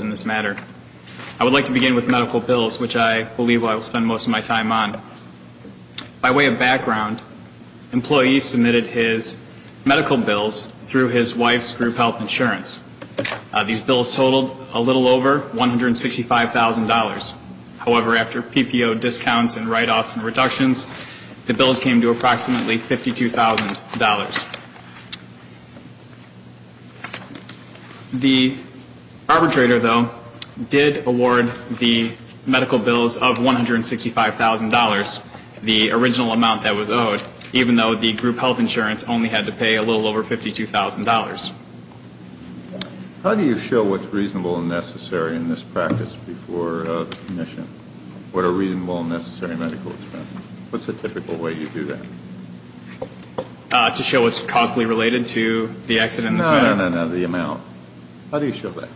in this matter. I would like to begin with medical bills, which I believe I will spend most of my time on. By way of background, employees submitted his medical bills through his wife's group health insurance. These bills totaled a little over $165,000. However, after PPO discounts and write-offs and reductions, the bills came to approximately $52,000. The arbitrator, though, did award the medical bills of $165,000, the original amount that was owed, even though the group health insurance only had to pay a little over $52,000. How do you show what's reasonable and necessary in this practice before the commission? What are reasonable and necessary medical expenses? What's the typical way you do that? To show what's causally related to the accident in this matter? No, no, no, no, the amount. How do you show that?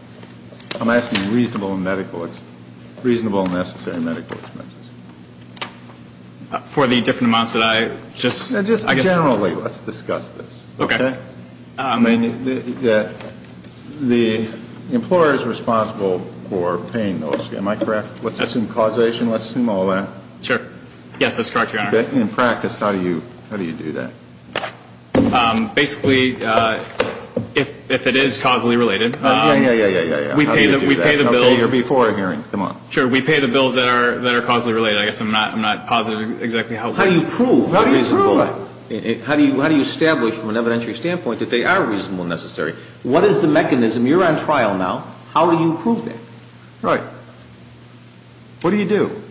I'm asking reasonable and medical expenses. Reasonable and necessary medical expenses. For the different amounts that I just, I guess... Generally, let's discuss this, okay? The employer is responsible for paying those, am I correct? Let's assume causation, let's assume all that. Sure. Yes, that's correct, Your Honor. In practice, how do you do that? Basically, if it is causally related... Yeah, yeah, yeah, yeah. We pay the bills... How do you prove reasonable? How do you establish from an evidentiary standpoint that they are reasonable and necessary? What is the mechanism? You're on trial now. How do you prove that? Right. What do you do?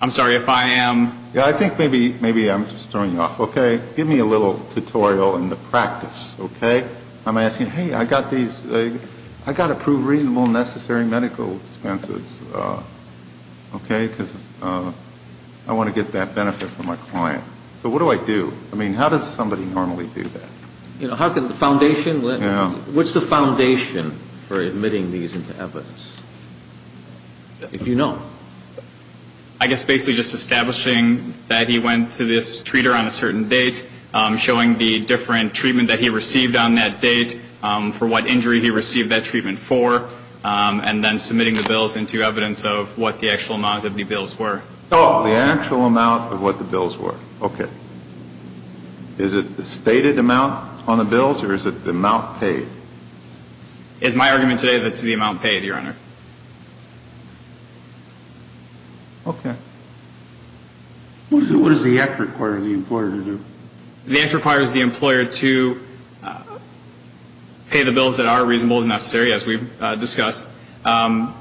I'm sorry, if I am... Yeah, I think maybe I'm just throwing you off, okay? Give me a little tutorial in the practice, okay? I'm asking, hey, I got these, I got to prove reasonable and necessary medical expenses, okay? Because I want to get that benefit for my client. So what do I do? I mean, how does somebody normally do that? What's the foundation for admitting these into evidence? I guess basically just establishing that he went to this treater on a certain date, showing the different treatment that he received on that date, for what injury he received that treatment for, and then submitting the bills into evidence of what the actual amount of the bills were. Oh, the actual amount of what the bills were. Okay. Is it the stated amount on the bills, or is it the amount paid? It's my argument today that it's the amount paid, Your Honor. Okay. What does the act require the employer to do? The act requires the employer to pay the bills that are reasonable and necessary, as we've discussed. And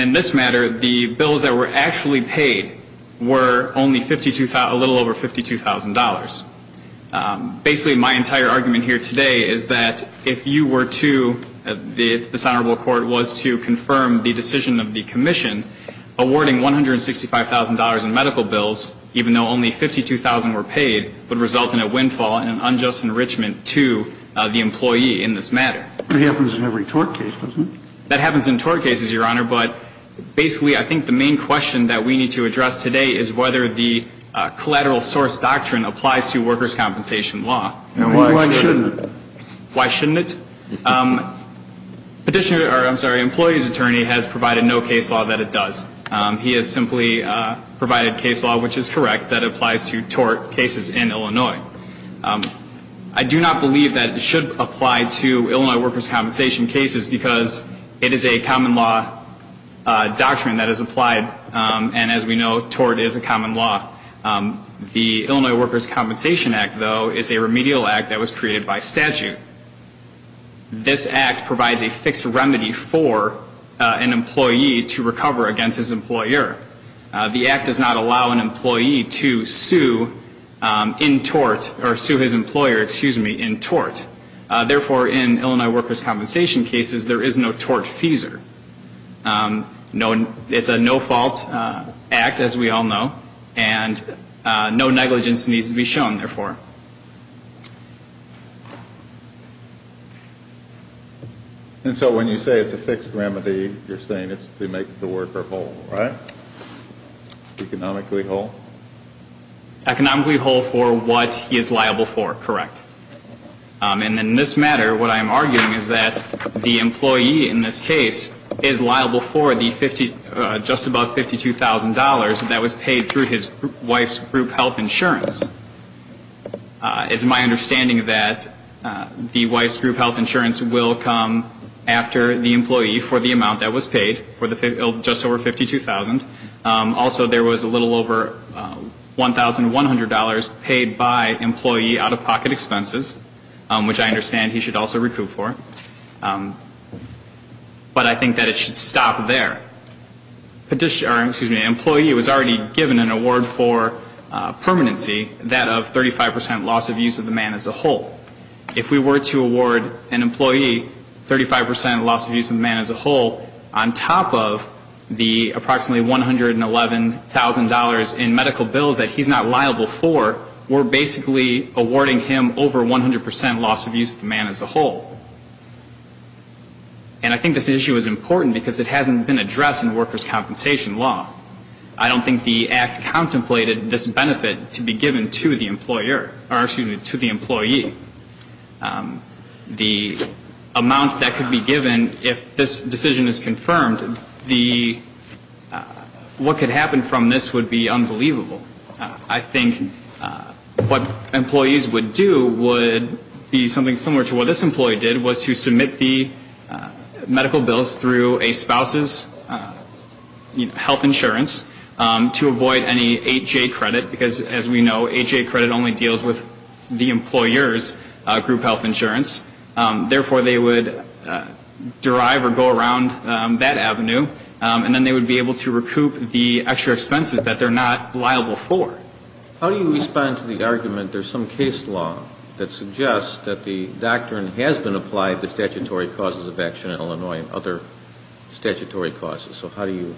in this matter, the bills that were actually paid were only a little over $52,000. Basically, my entire argument here today is that if you were to, if this Honorable Court was to confirm the decision of the Commission, awarding $165,000 in medical bills, even though only $52,000 were paid, would result in a windfall and an unjust enrichment to the employee in this matter. That happens in every tort case, doesn't it? That happens in tort cases, Your Honor, but basically, I think the main question that we need to address today is whether the collateral source doctrine applies to workers' compensation law. Why shouldn't it? Employee's attorney has provided no case law that it does. He has simply provided case law, which is correct, that applies to tort cases in Illinois. I do not believe that it should apply to Illinois workers' compensation cases because it is a common law doctrine that is applied, and as we know, tort is a common law. The Illinois Workers' Compensation Act, though, is a remedial act that was created by statute. This act provides a fixed remedy for an employee to recover against his employer. The act does not allow an employee to sue in tort, or sue his employer, excuse me, in tort. Therefore, in Illinois workers' compensation cases, there is no tort feaser. It's a no-fault act, as we all know, and no negligence needs to be shown, therefore. And so when you say it's a fixed remedy, you're saying it's to make the worker whole, right? Economically whole? Economically whole for what he is liable for, correct. And in this matter, what I am arguing is that the employee in this case is liable for the just above $52,000 that was paid through his wife's group health insurance. It's my understanding that the wife's group health insurance will come after the employee for the amount that was paid, for the just over $52,000. Also, there was a little over $1,100 paid by employee out-of-pocket expenses, which I understand he should also recoup for. But I think that it should stop there. Employee was already given an award for permanency, that of 35% loss of use of the man as a whole. If we were to award an employee 35% loss of use of the man as a whole, on top of the approximately $111,000 in medical bills that he's not liable for, we're basically awarding him over 100% loss of use of the man as a whole. And I think this issue is important because it hasn't been addressed in workers' compensation law. I don't think the Act contemplated this benefit to be given to the employer, or excuse me, to the employee. The amount that could be given if this decision is confirmed, the, what could happen from this would be unbelievable. I think what employees would do would be something similar to what this employee did, was to say, we submit the medical bills through a spouse's health insurance to avoid any 8J credit, because as we know, 8J credit only deals with the employer's group health insurance. Therefore, they would derive or go around that avenue, and then they would be able to recoup the extra expenses that they're not liable for. How do you respond to the argument there's some case law that suggests that the doctrine has been applied, but there are other statutory causes of action in Illinois and other statutory causes. So how do you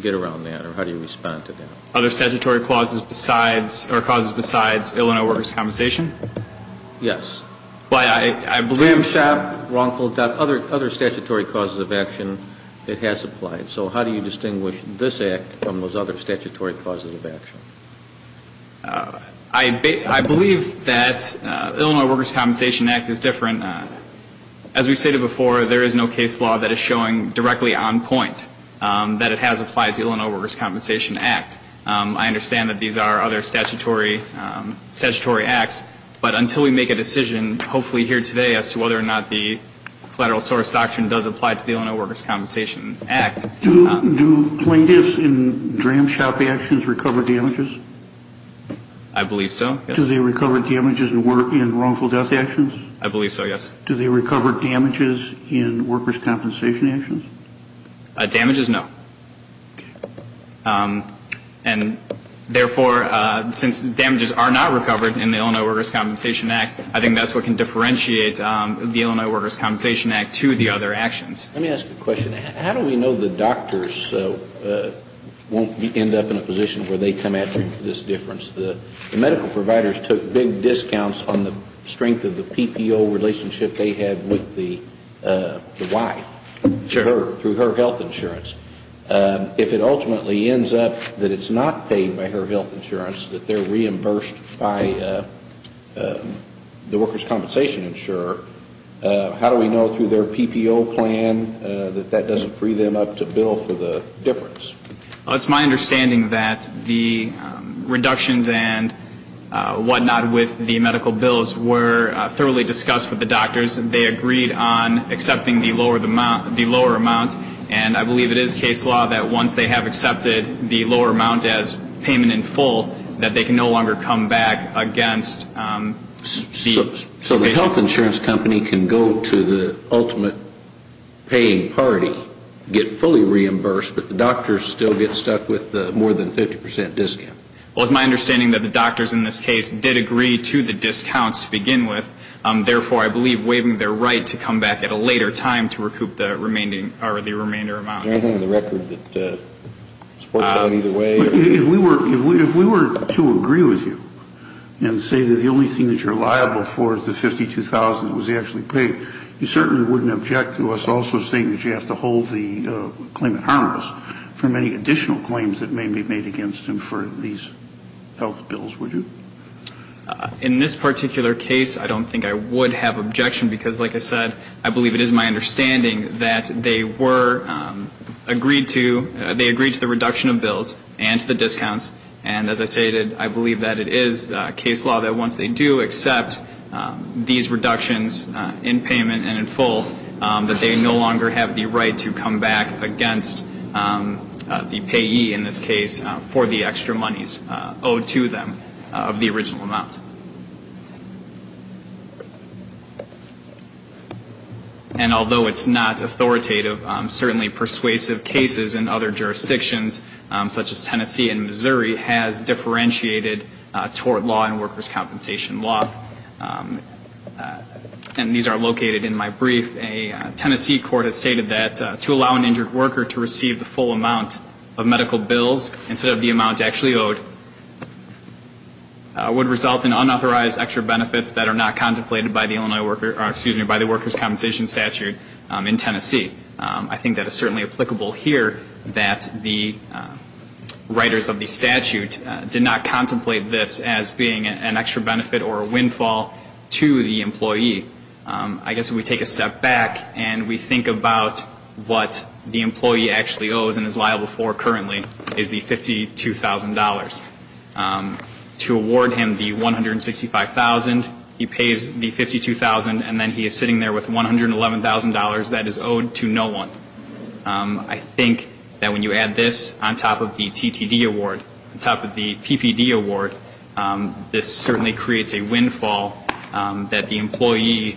get around that, or how do you respond to that? Other statutory causes besides, or causes besides Illinois workers' compensation? Yes. Well, I believe that other statutory causes of action, it has applied. So how do you distinguish this Act from those other statutory causes of action? I believe that the Illinois Workers' Compensation Act is different. As we've stated before, there is no case law that is showing directly on point that it has applied to the Illinois Workers' Compensation Act. I understand that these are other statutory acts, but until we make a decision, hopefully here today, as to whether or not the collateral source doctrine does apply to the Illinois Workers' Compensation Act. Do plaintiffs in DRAM shop actions recover damages? I believe so, yes. Do they recover damages in wrongful death actions? I believe so, yes. Do they recover damages in workers' compensation actions? Damages, no. And therefore, since damages are not recovered in the Illinois Workers' Compensation Act, I think that's what can differentiate the Illinois Workers' Compensation Act to the other actions. Let me ask a question. How do we know the doctors won't end up in a position where they come after them for this difference? The medical providers took big discounts on the strength of the PPO relationship they had with the wife through her health insurance. If it ultimately ends up that it's not paid by her health insurance, that they're reimbursed by the workers' compensation insurer, how do we know through their PPO plan that that doesn't free them up to bill for the difference? Well, it's my understanding that the reductions and whatnot with the medical bills were thoroughly discussed with the doctors. They agreed on accepting the lower amount. And I believe it is case law that once they have accepted the lower amount as payment in full, that they can no longer come back against the patient. So the health insurance company can go to the ultimate paying party, get fully reimbursed, but the doctors still get stuck with the more than 50 percent discount? Well, it's my understanding that the doctors in this case did agree to the discounts to begin with. Therefore, I believe waiving their right to come back at a later time to recoup the remainder amount. Is there anything in the record that supports that either way? If we were to agree with you and say that the only thing that you're liable for is the $52,000 that was actually paid, you certainly wouldn't object to us also saying that you have to hold the claimant harmless for many additional claims that may be made against him for these health bills, would you? In this particular case, I don't think I would have objection because, like I said, I believe it is my understanding that they agreed to the reduction of bills and to the discounts. And as I stated, I believe that it is case law that once they do accept these reductions in payment and in full, that they no longer have the right to come back against the payee in this case for the extra monies owed to them of the original amount. And although it's not authoritative, certainly persuasive cases in other jurisdictions such as Tennessee and Missouri has differentiated tort law and workers' compensation law. And these are located in my brief. A Tennessee court has stated that to allow an injured worker to receive the full amount of medical bills instead of the amount actually owed would result in unauthorized extra benefits that are not contemplated by the workers' compensation statute in Tennessee. I think that is certainly applicable here that the writers of the statute did not contemplate this as being an extra benefit or a windfall to the employee. I guess if we take a step back and we think about what the employee actually owes and is liable for currently is the $52,000. To award him the $165,000, he pays the $52,000, and then he is sitting there with $111,000 that is owed to no one. I think that when you add this on top of the TTD award, on top of the PPD award, this certainly creates a windfall that the employee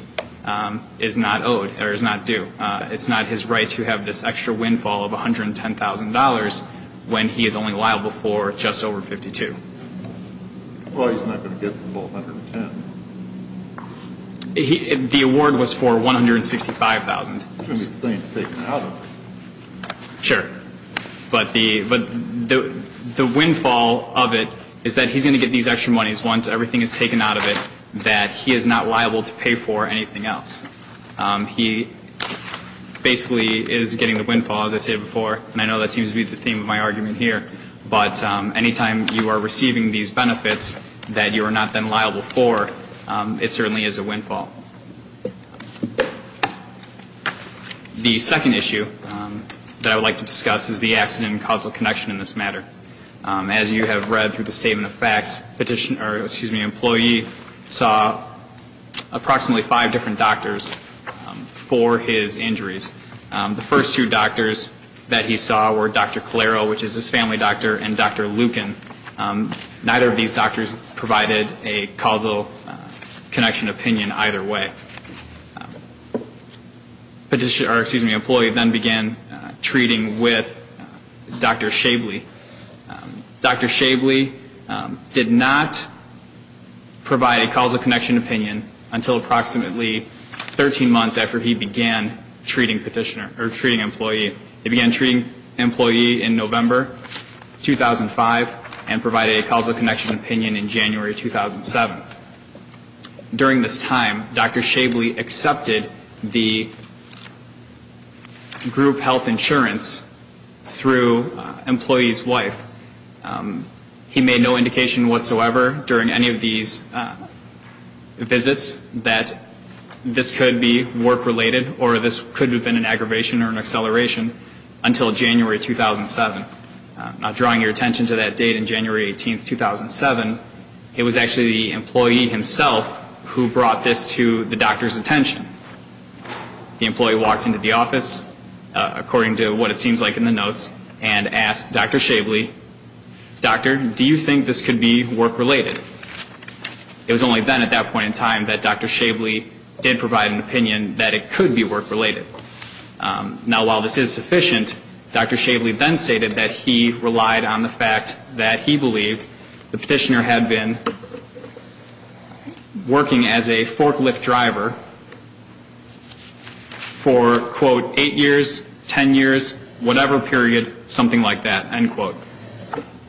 is not owed or is not due. It's not his right to have this extra windfall of $110,000 when he is only liable for just over $52,000. The employee is not going to get the $110,000. The award was for $165,000. Everything is taken out of it. Sure. But the windfall of it is that he is going to get these extra monies once everything is taken out of it that he is not liable to pay for anything else. He basically is getting the windfall, as I said before, and I know that seems to be the theme of my argument here. But any time you are receiving these benefits that you are not then liable for, it certainly is a windfall. The second issue that I would like to discuss is the accident and causal connection in this matter. As you have read through the statement of facts, the employee saw approximately five different doctors for his injuries. The first two doctors that he saw were Dr. Calero, which is his family doctor, and Dr. Lucan. Neither of these doctors provided a causal connection opinion either way. The employee then began treating with Dr. Shabley. Dr. Shabley did not provide a causal connection opinion until approximately 13 months after he began treating employee. He began treating employee in November 2005 and provided a causal connection opinion in January 2007. During this time, Dr. Shabley accepted the group health insurance through employee's wife. He made no indication whatsoever during any of these visits that this could be work-related or this could have been an aggravation or an acceleration until January 2007. Now, drawing your attention to that date in January 18th, 2007, it was actually the employee himself who brought this to the doctor's attention. The employee walked into the office, according to what it seems like in the notes, and asked Dr. Shabley, Doctor, do you think this could be work-related? It was only then at that point in time that Dr. Shabley did provide an opinion that it could be work-related. Now, while this is sufficient, Dr. Shabley then stated that he relied on the fact that he believed the petitioner had been working as a forklift driver for, quote, eight years, ten years, whatever period, something like that, end quote.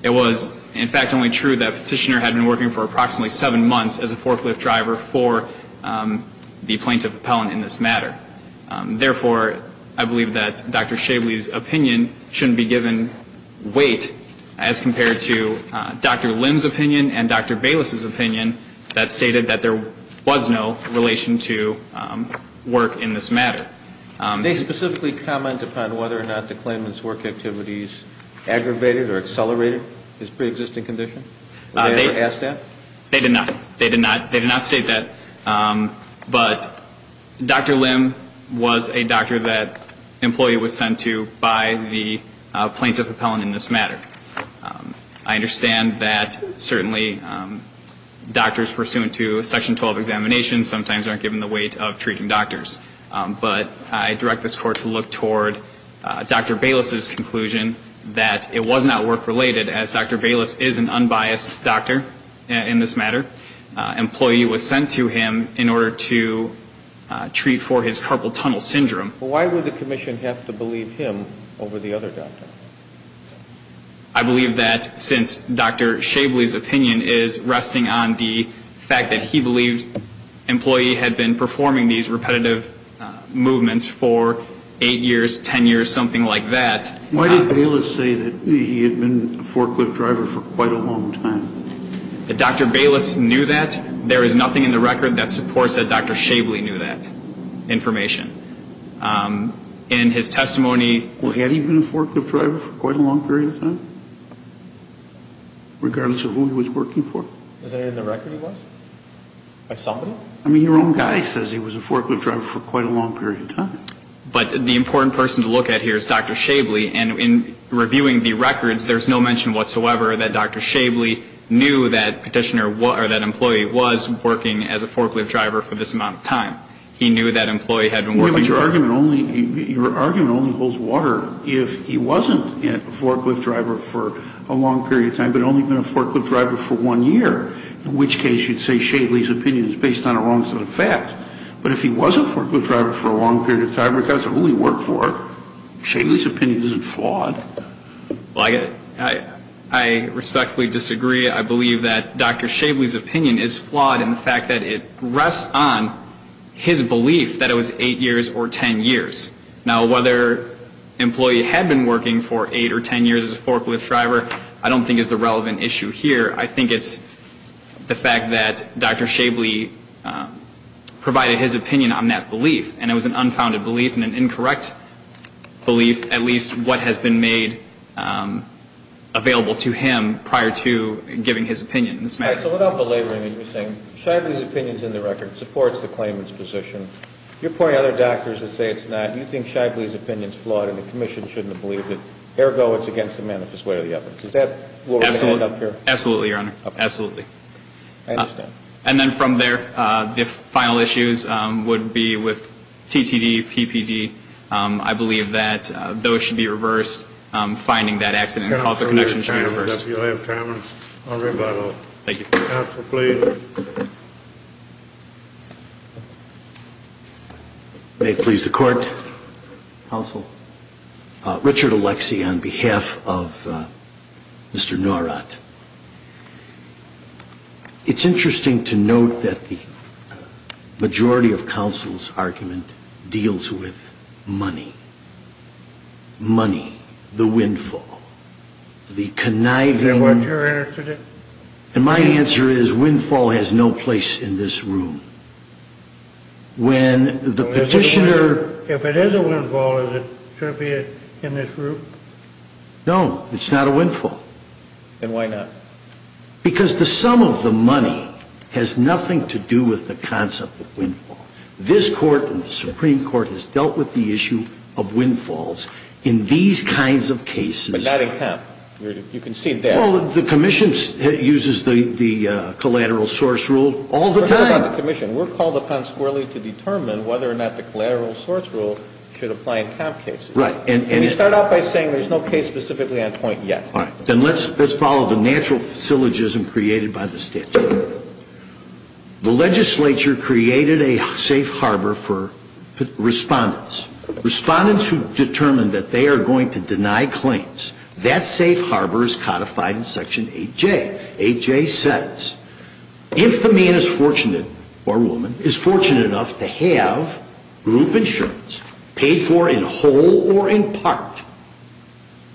It was, in fact, only true that the petitioner had been working for approximately seven months as a forklift driver for the plaintiff appellant in this matter. Therefore, I believe that Dr. Shabley's opinion shouldn't be given weight as compared to Dr. Lim's opinion and Dr. Bayless's opinion that stated that there was no relation to work in this matter. Did they specifically comment upon whether or not the claimant's work activities aggravated or accelerated his preexisting condition? Did they ever ask that? They did not. They did not. They did not state that. But Dr. Lim was a doctor that an employee was sent to by the plaintiff appellant in this matter. I understand that certainly doctors pursuant to Section 12 examinations sometimes aren't given the weight of treating doctors. But I direct this Court to look toward Dr. Bayless's conclusion that it was not work-related, as Dr. Bayless is an unbiased doctor in this matter. An employee was sent to him in order to treat for his carpal tunnel syndrome. Why would the commission have to believe him over the other doctor? I believe that since Dr. Shabley's opinion is resting on the fact that he believed an employee had been performing these repetitive movements for eight years, ten years, something like that. Why did Bayless say that he had been a forklift driver for quite a long time? Dr. Bayless knew that. There is nothing in the record that supports that Dr. Shabley knew that information. In his testimony he had been a forklift driver for quite a long period of time, regardless of who he was working for. Is that in the record he was? I mean, your own guy says he was a forklift driver for quite a long period of time. But the important person to look at here is Dr. Shabley. And in reviewing the records, there's no mention whatsoever that Dr. Shabley knew that petitioner or that employee was working as a forklift driver for this amount of time. He knew that employee had been working. But your argument only holds water if he wasn't a forklift driver for a long period of time, but only been a forklift driver for one year, in which case you'd say Shabley's opinion is based on a wrong set of facts. But if he was a forklift driver for a long period of time, regardless of who he worked for, Shabley's opinion isn't flawed. Well, I respectfully disagree. I believe that Dr. Shabley's opinion is flawed in the fact that it rests on his belief that it was 8 years or 10 years. Now, whether an employee had been working for 8 or 10 years as a forklift driver I don't think is the relevant issue here. I think it's the fact that Dr. Shabley provided his opinion on that belief, and it was an unfounded belief and an incorrect belief, at least what has been made available to him prior to giving his opinion. So without belaboring what you're saying, Shabley's opinion is in the record. It supports the claimant's position. You're pointing out other doctors that say it's not. You think Shabley's opinion is flawed and the Commission shouldn't have believed it. Ergo, it's against the manifest way of the evidence. Absolutely, Your Honor. Absolutely. I understand. And then from there, the final issues would be with TTD, PPD. I believe that those should be reversed. Finding that accident and causal connection should be reversed. Thank you. Counsel, please. May it please the Court. Counsel. Richard Alexi on behalf of Mr. Nowrat. It's interesting to note that the majority of counsel's argument deals with money. Money, the windfall, the conniving. Is that what you're interested in? And my answer is windfall has no place in this room. If it is a windfall, should it be in this room? No, it's not a windfall. Then why not? Because the sum of the money has nothing to do with the concept of windfall. This Court and the Supreme Court has dealt with the issue of windfalls in these kinds of cases. But not in Kemp. You can see that. Well, the Commission uses the collateral source rule all the time. We're called upon squarely to determine whether or not the collateral source rule should apply in Kemp cases. Right. And we start off by saying there's no case specifically on point yet. All right. Then let's follow the natural syllogism created by the statute. The legislature created a safe harbor for respondents. Respondents who determined that they are going to deny claims, that safe harbor is codified in Section 8J. Section 8J says if the man is fortunate, or woman, is fortunate enough to have group insurance paid for in whole or in part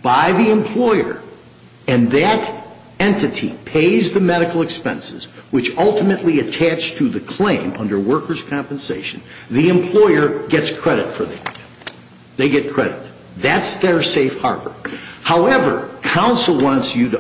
by the employer, and that entity pays the medical expenses, which ultimately attach to the claim under workers' compensation, the employer gets credit for that. They get credit. That's their safe harbor. However, counsel wants you to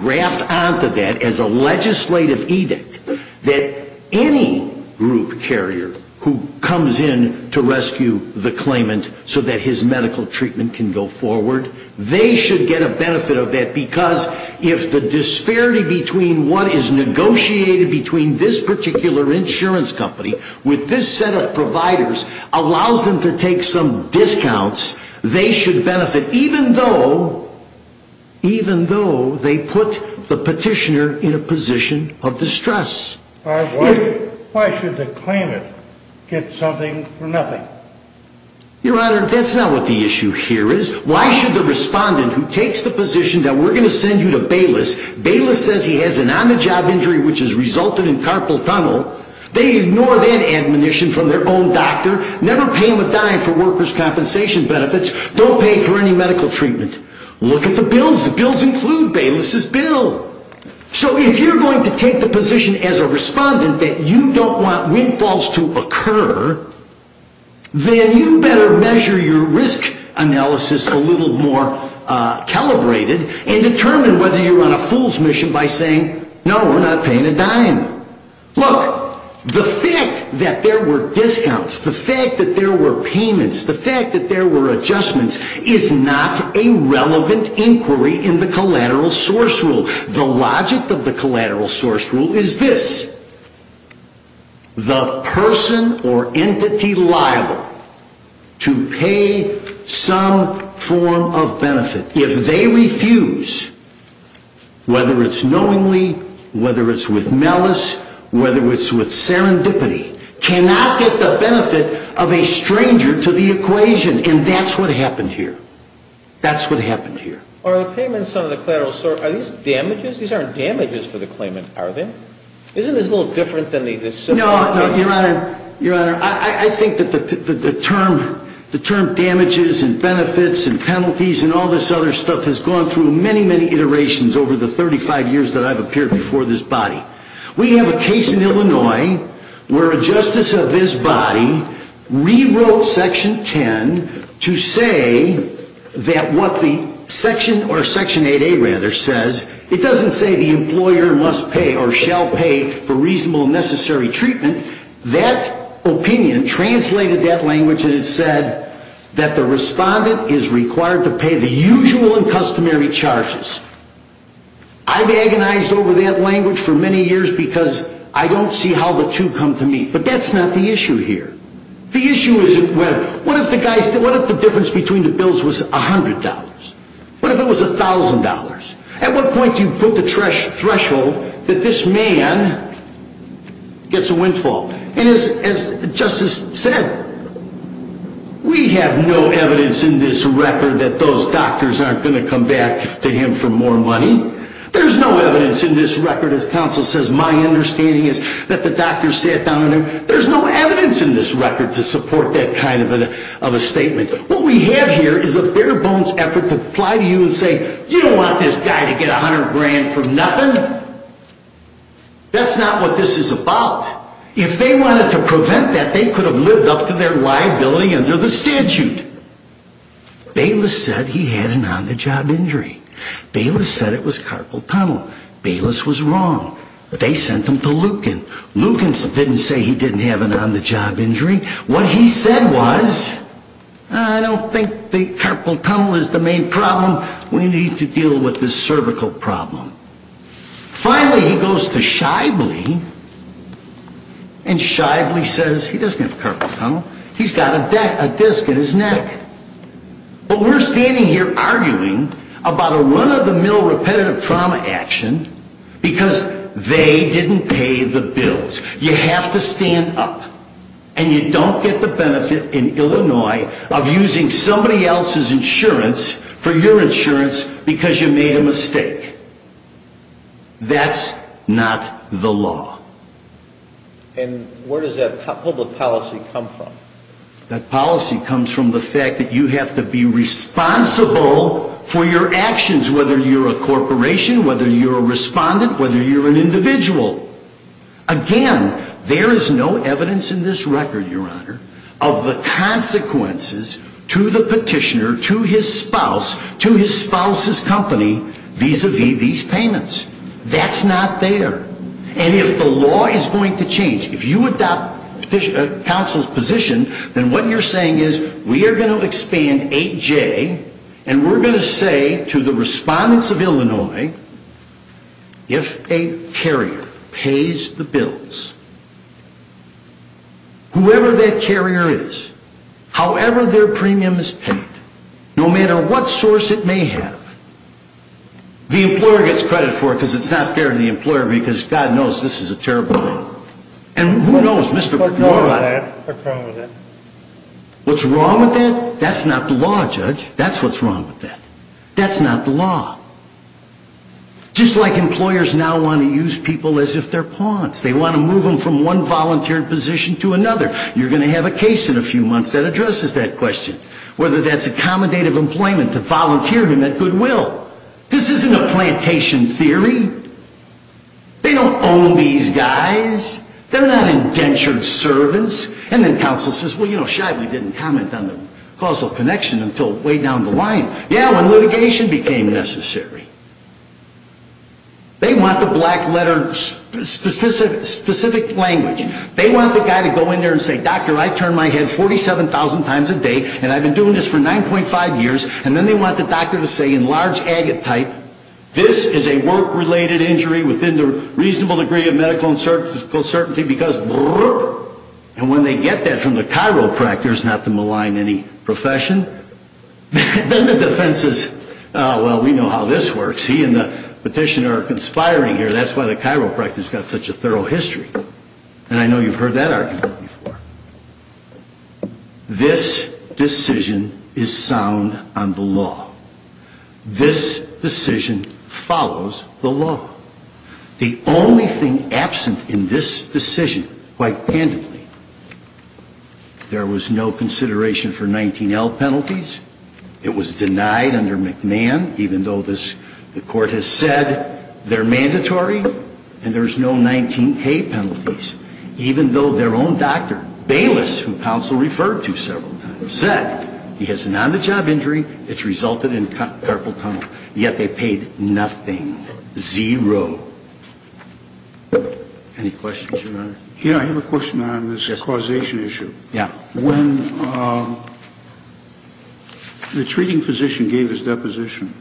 graft onto that as a legislative edict that any group carrier who comes in to rescue the claimant so that his medical treatment can go forward, they should get a benefit of that, because if the disparity between what is negotiated between this particular insurance company with this set of providers allows them to take some discounts, they should benefit, even though they put the petitioner in a position of distress. Why should the claimant get something for nothing? Your Honor, that's not what the issue here is. Why should the respondent who takes the position that we're going to send you to Bayless, Bayless says he has an on-the-job injury which has resulted in carpal tunnel, they ignore that admonition from their own doctor, never pay him a dime for workers' compensation benefits, don't pay for any medical treatment. Look at the bills. The bills include Bayless's bill. So if you're going to take the position as a respondent that you don't want windfalls to occur, then you better measure your risk analysis a little more calibrated and determine whether you're on a fool's mission by saying, no, we're not paying a dime. Look, the fact that there were discounts, the fact that there were payments, the fact that there were adjustments is not a relevant inquiry in the collateral source rule. The logic of the collateral source rule is this, the person or entity liable to pay some form of benefit, if they refuse, whether it's knowingly, whether it's with malice, whether it's with serendipity, cannot get the benefit of a stranger to the equation. And that's what happened here. That's what happened here. Are the payments on the collateral source, are these damages? These aren't damages for the claimant, are they? Isn't this a little different than the civil case? Your Honor, I think that the term damages and benefits and penalties and all this other stuff has gone through many, many iterations over the 35 years that I've appeared before this body. We have a case in Illinois where a justice of this body rewrote Section 10 to say that what the Section, or Section 8A rather, says, it doesn't say the employer must pay or shall pay for reasonable and necessary treatment, that opinion translated that language and it said that the respondent is required to pay the usual and customary charges. I've agonized over that language for many years because I don't see how the two come to meet. But that's not the issue here. The issue is what if the difference between the bills was $100? What if it was $1,000? At what point do you put the threshold that this man gets a windfall? And as Justice said, we have no evidence in this record that those doctors aren't going to come back to him for more money. There's no evidence in this record, as counsel says, my understanding is that the doctors sat down and there's no evidence in this record to support that kind of a statement. What we have here is a bare-bones effort to apply to you and say, you don't want this guy to get $100,000 from nothing. That's not what this is about. If they wanted to prevent that, they could have lived up to their liability under the statute. Bayless said he had an on-the-job injury. Bayless said it was carpal tunnel. Bayless was wrong. They sent him to Lucan. Lucan didn't say he didn't have an on-the-job injury. What he said was, I don't think the carpal tunnel is the main problem. We need to deal with the cervical problem. Finally, he goes to Shibley and Shibley says he doesn't have a carpal tunnel. He's got a disc in his neck. But we're standing here arguing about a run-of-the-mill repetitive trauma action because they didn't pay the bills. You have to stand up. And you don't get the benefit in Illinois of using somebody else's insurance for your insurance because you made a mistake. That's not the law. And where does that public policy come from? That policy comes from the fact that you have to be responsible for your actions, whether you're a corporation, whether you're a respondent, whether you're an individual. Again, there is no evidence in this record, Your Honor, of the consequences to the petitioner, to his spouse, to his spouse's company vis-a-vis these payments. That's not there. And if the law is going to change, if you adopt counsel's position, then what you're saying is we are going to expand 8J and we're going to say to the respondents of Illinois, if a carrier pays the bills, whoever that carrier is, however their premium is paid, no matter what source it may have, the employer gets credit for it because it's not fair to the employer because God knows this is a terrible loan. What's wrong with that? What's wrong with that? That's not the law, Judge. That's what's wrong with that. That's not the law. Just like employers now want to use people as if they're pawns. They want to move them from one volunteer position to another. You're going to have a case in a few months that addresses that question, whether that's accommodative employment to volunteer them at goodwill. This isn't a plantation theory. They don't own these guys. They're not indentured servants. And then counsel says, well, you know, shyly didn't comment on the causal connection until way down the line. Yeah, when litigation became necessary. They want the black letter specific language. They want the guy to go in there and say, doctor, I turn my head 47,000 times a day and I've been doing this for 9.5 years. And then they want the doctor to say in large agate type, this is a work-related injury within the reasonable degree of medical uncertainty, because, and when they get that from the chiropractor, it's not to malign any profession. Then the defense is, well, we know how this works. He and the petitioner are conspiring here. That's why the chiropractor's got such a thorough history. And I know you've heard that argument before. This decision is sound on the law. This decision follows the law. The only thing absent in this decision, quite candidly, there was no consideration for 19L penalties. It was denied under McMahon, even though the court has said they're mandatory and there's no 19K penalties. Even though their own doctor, Bayless, who counsel referred to several times, said he has an on-the-job injury that's resulted in carpal tunnel. Yet they paid nothing, zero. Any questions, Your Honor? Yeah, I have a question on this causation issue. Yeah. When the treating physician gave his deposition,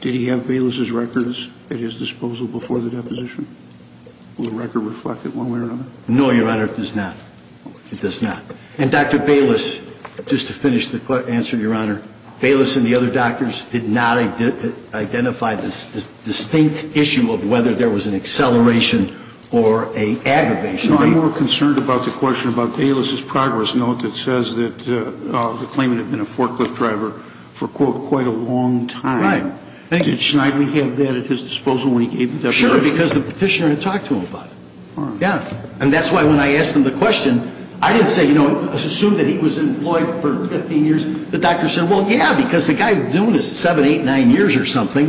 did he have Bayless's records at his disposal before the deposition? Will the record reflect it one way or another? No, Your Honor, it does not. It does not. And Dr. Bayless, just to finish the answer, Your Honor, Bayless and the other doctors did not identify the distinct issue of whether there was an acceleration or an aggravation. I'm more concerned about the question about Bayless's progress note that says that the claimant had been a forklift driver for, quote, quite a long time. Right. For sure, because the petitioner had talked to him about it. Yeah. And that's why when I asked him the question, I didn't say, you know, assume that he was employed for 15 years. The doctor said, well, yeah, because the guy was doing this seven, eight, nine years or something.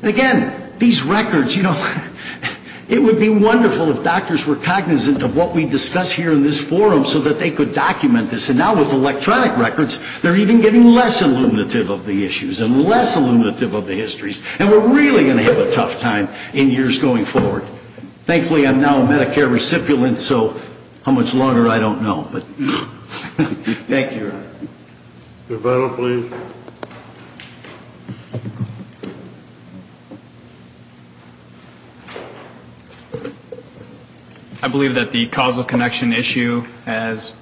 And again, these records, you know, it would be wonderful if doctors were cognizant of what we discuss here in this forum so that they could document this. And now with electronic records, they're even getting less illuminative of the issues and less illuminative of the histories. And we're really going to have a tough time in years going forward. Thankfully, I'm now a Medicare recipient, so how much longer, I don't know. But thank you, Your Honor. Your final plea. I believe that the causal connection issue has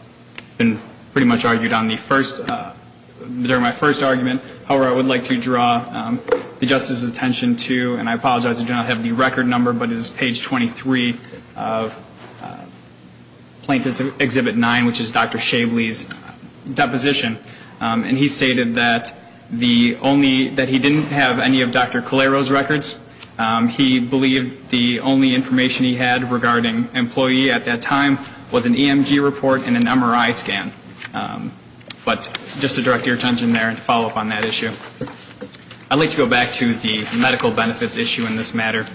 been pretty much argued on the first, during my first argument. However, I would like to draw the Justice's attention to, and I apologize, I do not have the record number, but it is page 23 of Plaintiff's Exhibit 9, which is Dr. Shavely's deposition. And he stated that the only, that he didn't have any of Dr. Calero's records. He believed the only information he had regarding employee at that time was an EMG report and an MRI scan. But just to direct your attention there and to follow up on that issue. I'd like to go back to the medical benefits issue in this matter.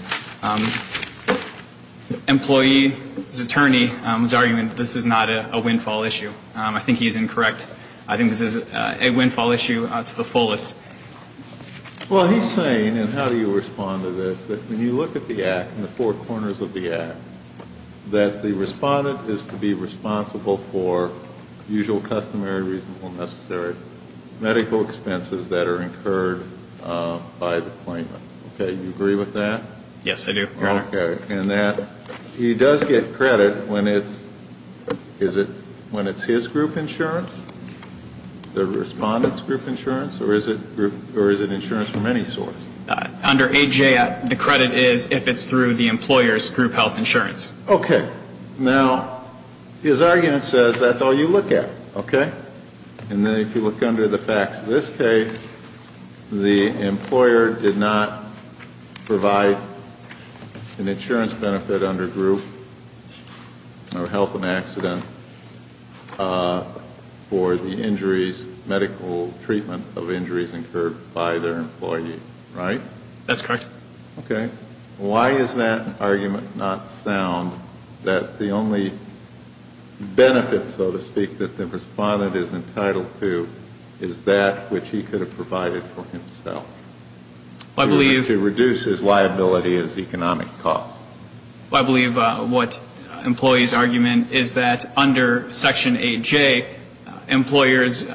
Employee's attorney's argument, this is not a windfall issue. I think he's incorrect. I think this is a windfall issue to the fullest. Well, he's saying, and how do you respond to this, that when you look at the Act, in the four corners of the Act, that the respondent is to be responsible for usual, customary, reasonable, necessary medical expenses that are incurred by the claimant. Okay. Do you agree with that? Yes, I do, Your Honor. Okay. And that he does get credit when it's, is it when it's his group insurance, the respondent's group insurance, or is it insurance from any source? Under AJ, the credit is if it's through the employer's group health insurance. Okay. Now, his argument says that's all you look at. Okay? And then if you look under the facts of this case, the employer did not provide an insurance benefit under group or health and accident for the injuries, medical treatment of injuries incurred by their employee. Right? That's correct. Okay. Why is that argument not sound, that the only benefit, so to speak, that the respondent is entitled to, is that which he could have provided for himself? I believe To reduce his liability as economic cost. I believe what employee's argument is that under Section AJ, employers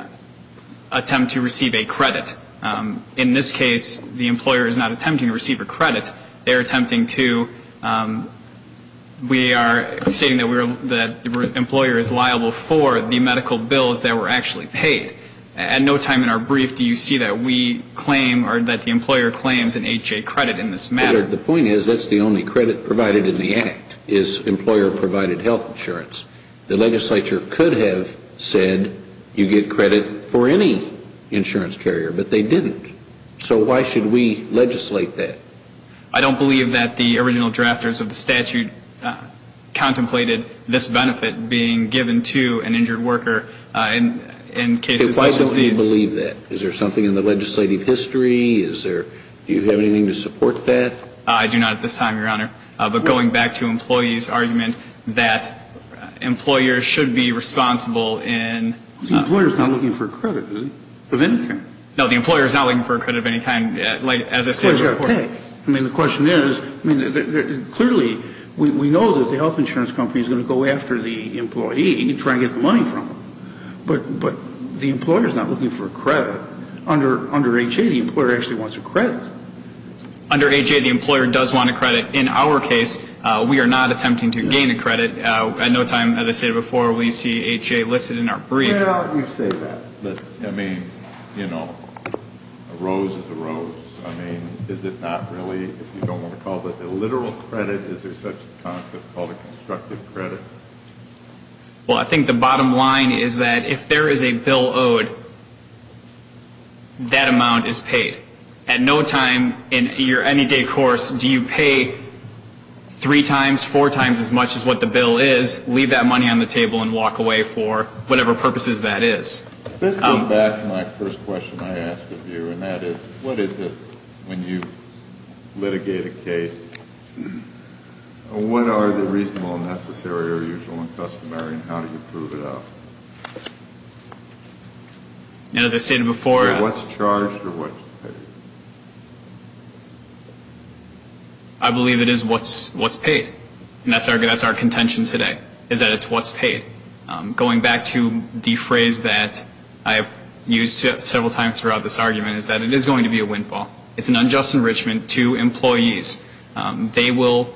attempt to receive a credit. In this case, the employer is not attempting to receive a credit. They're attempting to, we are stating that the employer is liable for the medical bills that were actually paid. At no time in our brief do you see that we claim or that the employer claims an AJ credit in this matter. The point is that's the only credit provided in the act, is employer provided health insurance. The legislature could have said you get credit for any insurance carrier, but they didn't. So why should we legislate that? I don't believe that the original drafters of the statute contemplated this benefit being given to an injured worker in cases such as these. Why don't you believe that? Is there something in the legislative history? Do you have anything to support that? I do not at this time, Your Honor. But going back to employee's argument that employers should be responsible in The employer is not looking for a credit, is he? Of any kind. No, the employer is not looking for a credit of any kind as I stated before. I mean, the question is, clearly we know that the health insurance company is going to go after the employee to try and get the money from him. But the employer is not looking for a credit. Under HA, the employer actually wants a credit. Under HA, the employer does want a credit. In our case, we are not attempting to gain a credit. At no time, as I stated before, will you see HA listed in our brief. Why don't you say that? I mean, you know, a rose is a rose. I mean, is it not really, if you don't want to call it a literal credit, is there such a concept called a constructive credit? Well, I think the bottom line is that if there is a bill owed, that amount is paid. At no time in your any day course do you pay three times, four times as much as what the bill is, leave that money on the table and walk away for whatever purposes that is. Let's come back to my first question I asked of you, and that is, what is this when you litigate a case? What are the reasonable, necessary, or usual and customary, and how do you prove it out? As I stated before. What's charged or what's paid? I believe it is what's paid, and that's our contention today, is that it's what's paid. Going back to the phrase that I have used several times throughout this argument is that it is going to be a windfall. It's an unjust enrichment to employees. They will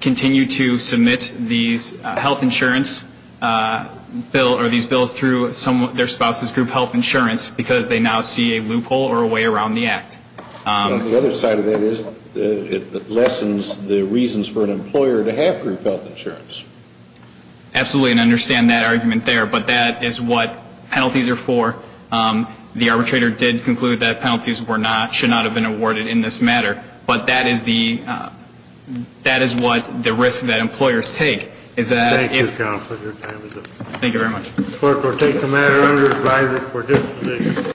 continue to submit these health insurance bills through their spouse's group health insurance because they now see a loophole or a way around the act. The other side of that is it lessens the reasons for an employer to have group health insurance. Absolutely, and I understand that argument there, but that is what penalties are for. The arbitrator did conclude that penalties were not, should not have been awarded in this matter, but that is the, that is what the risk that employers take is that if. Thank you, counsel, for your time. Thank you very much. Clerk will take the matter under advisory for this position.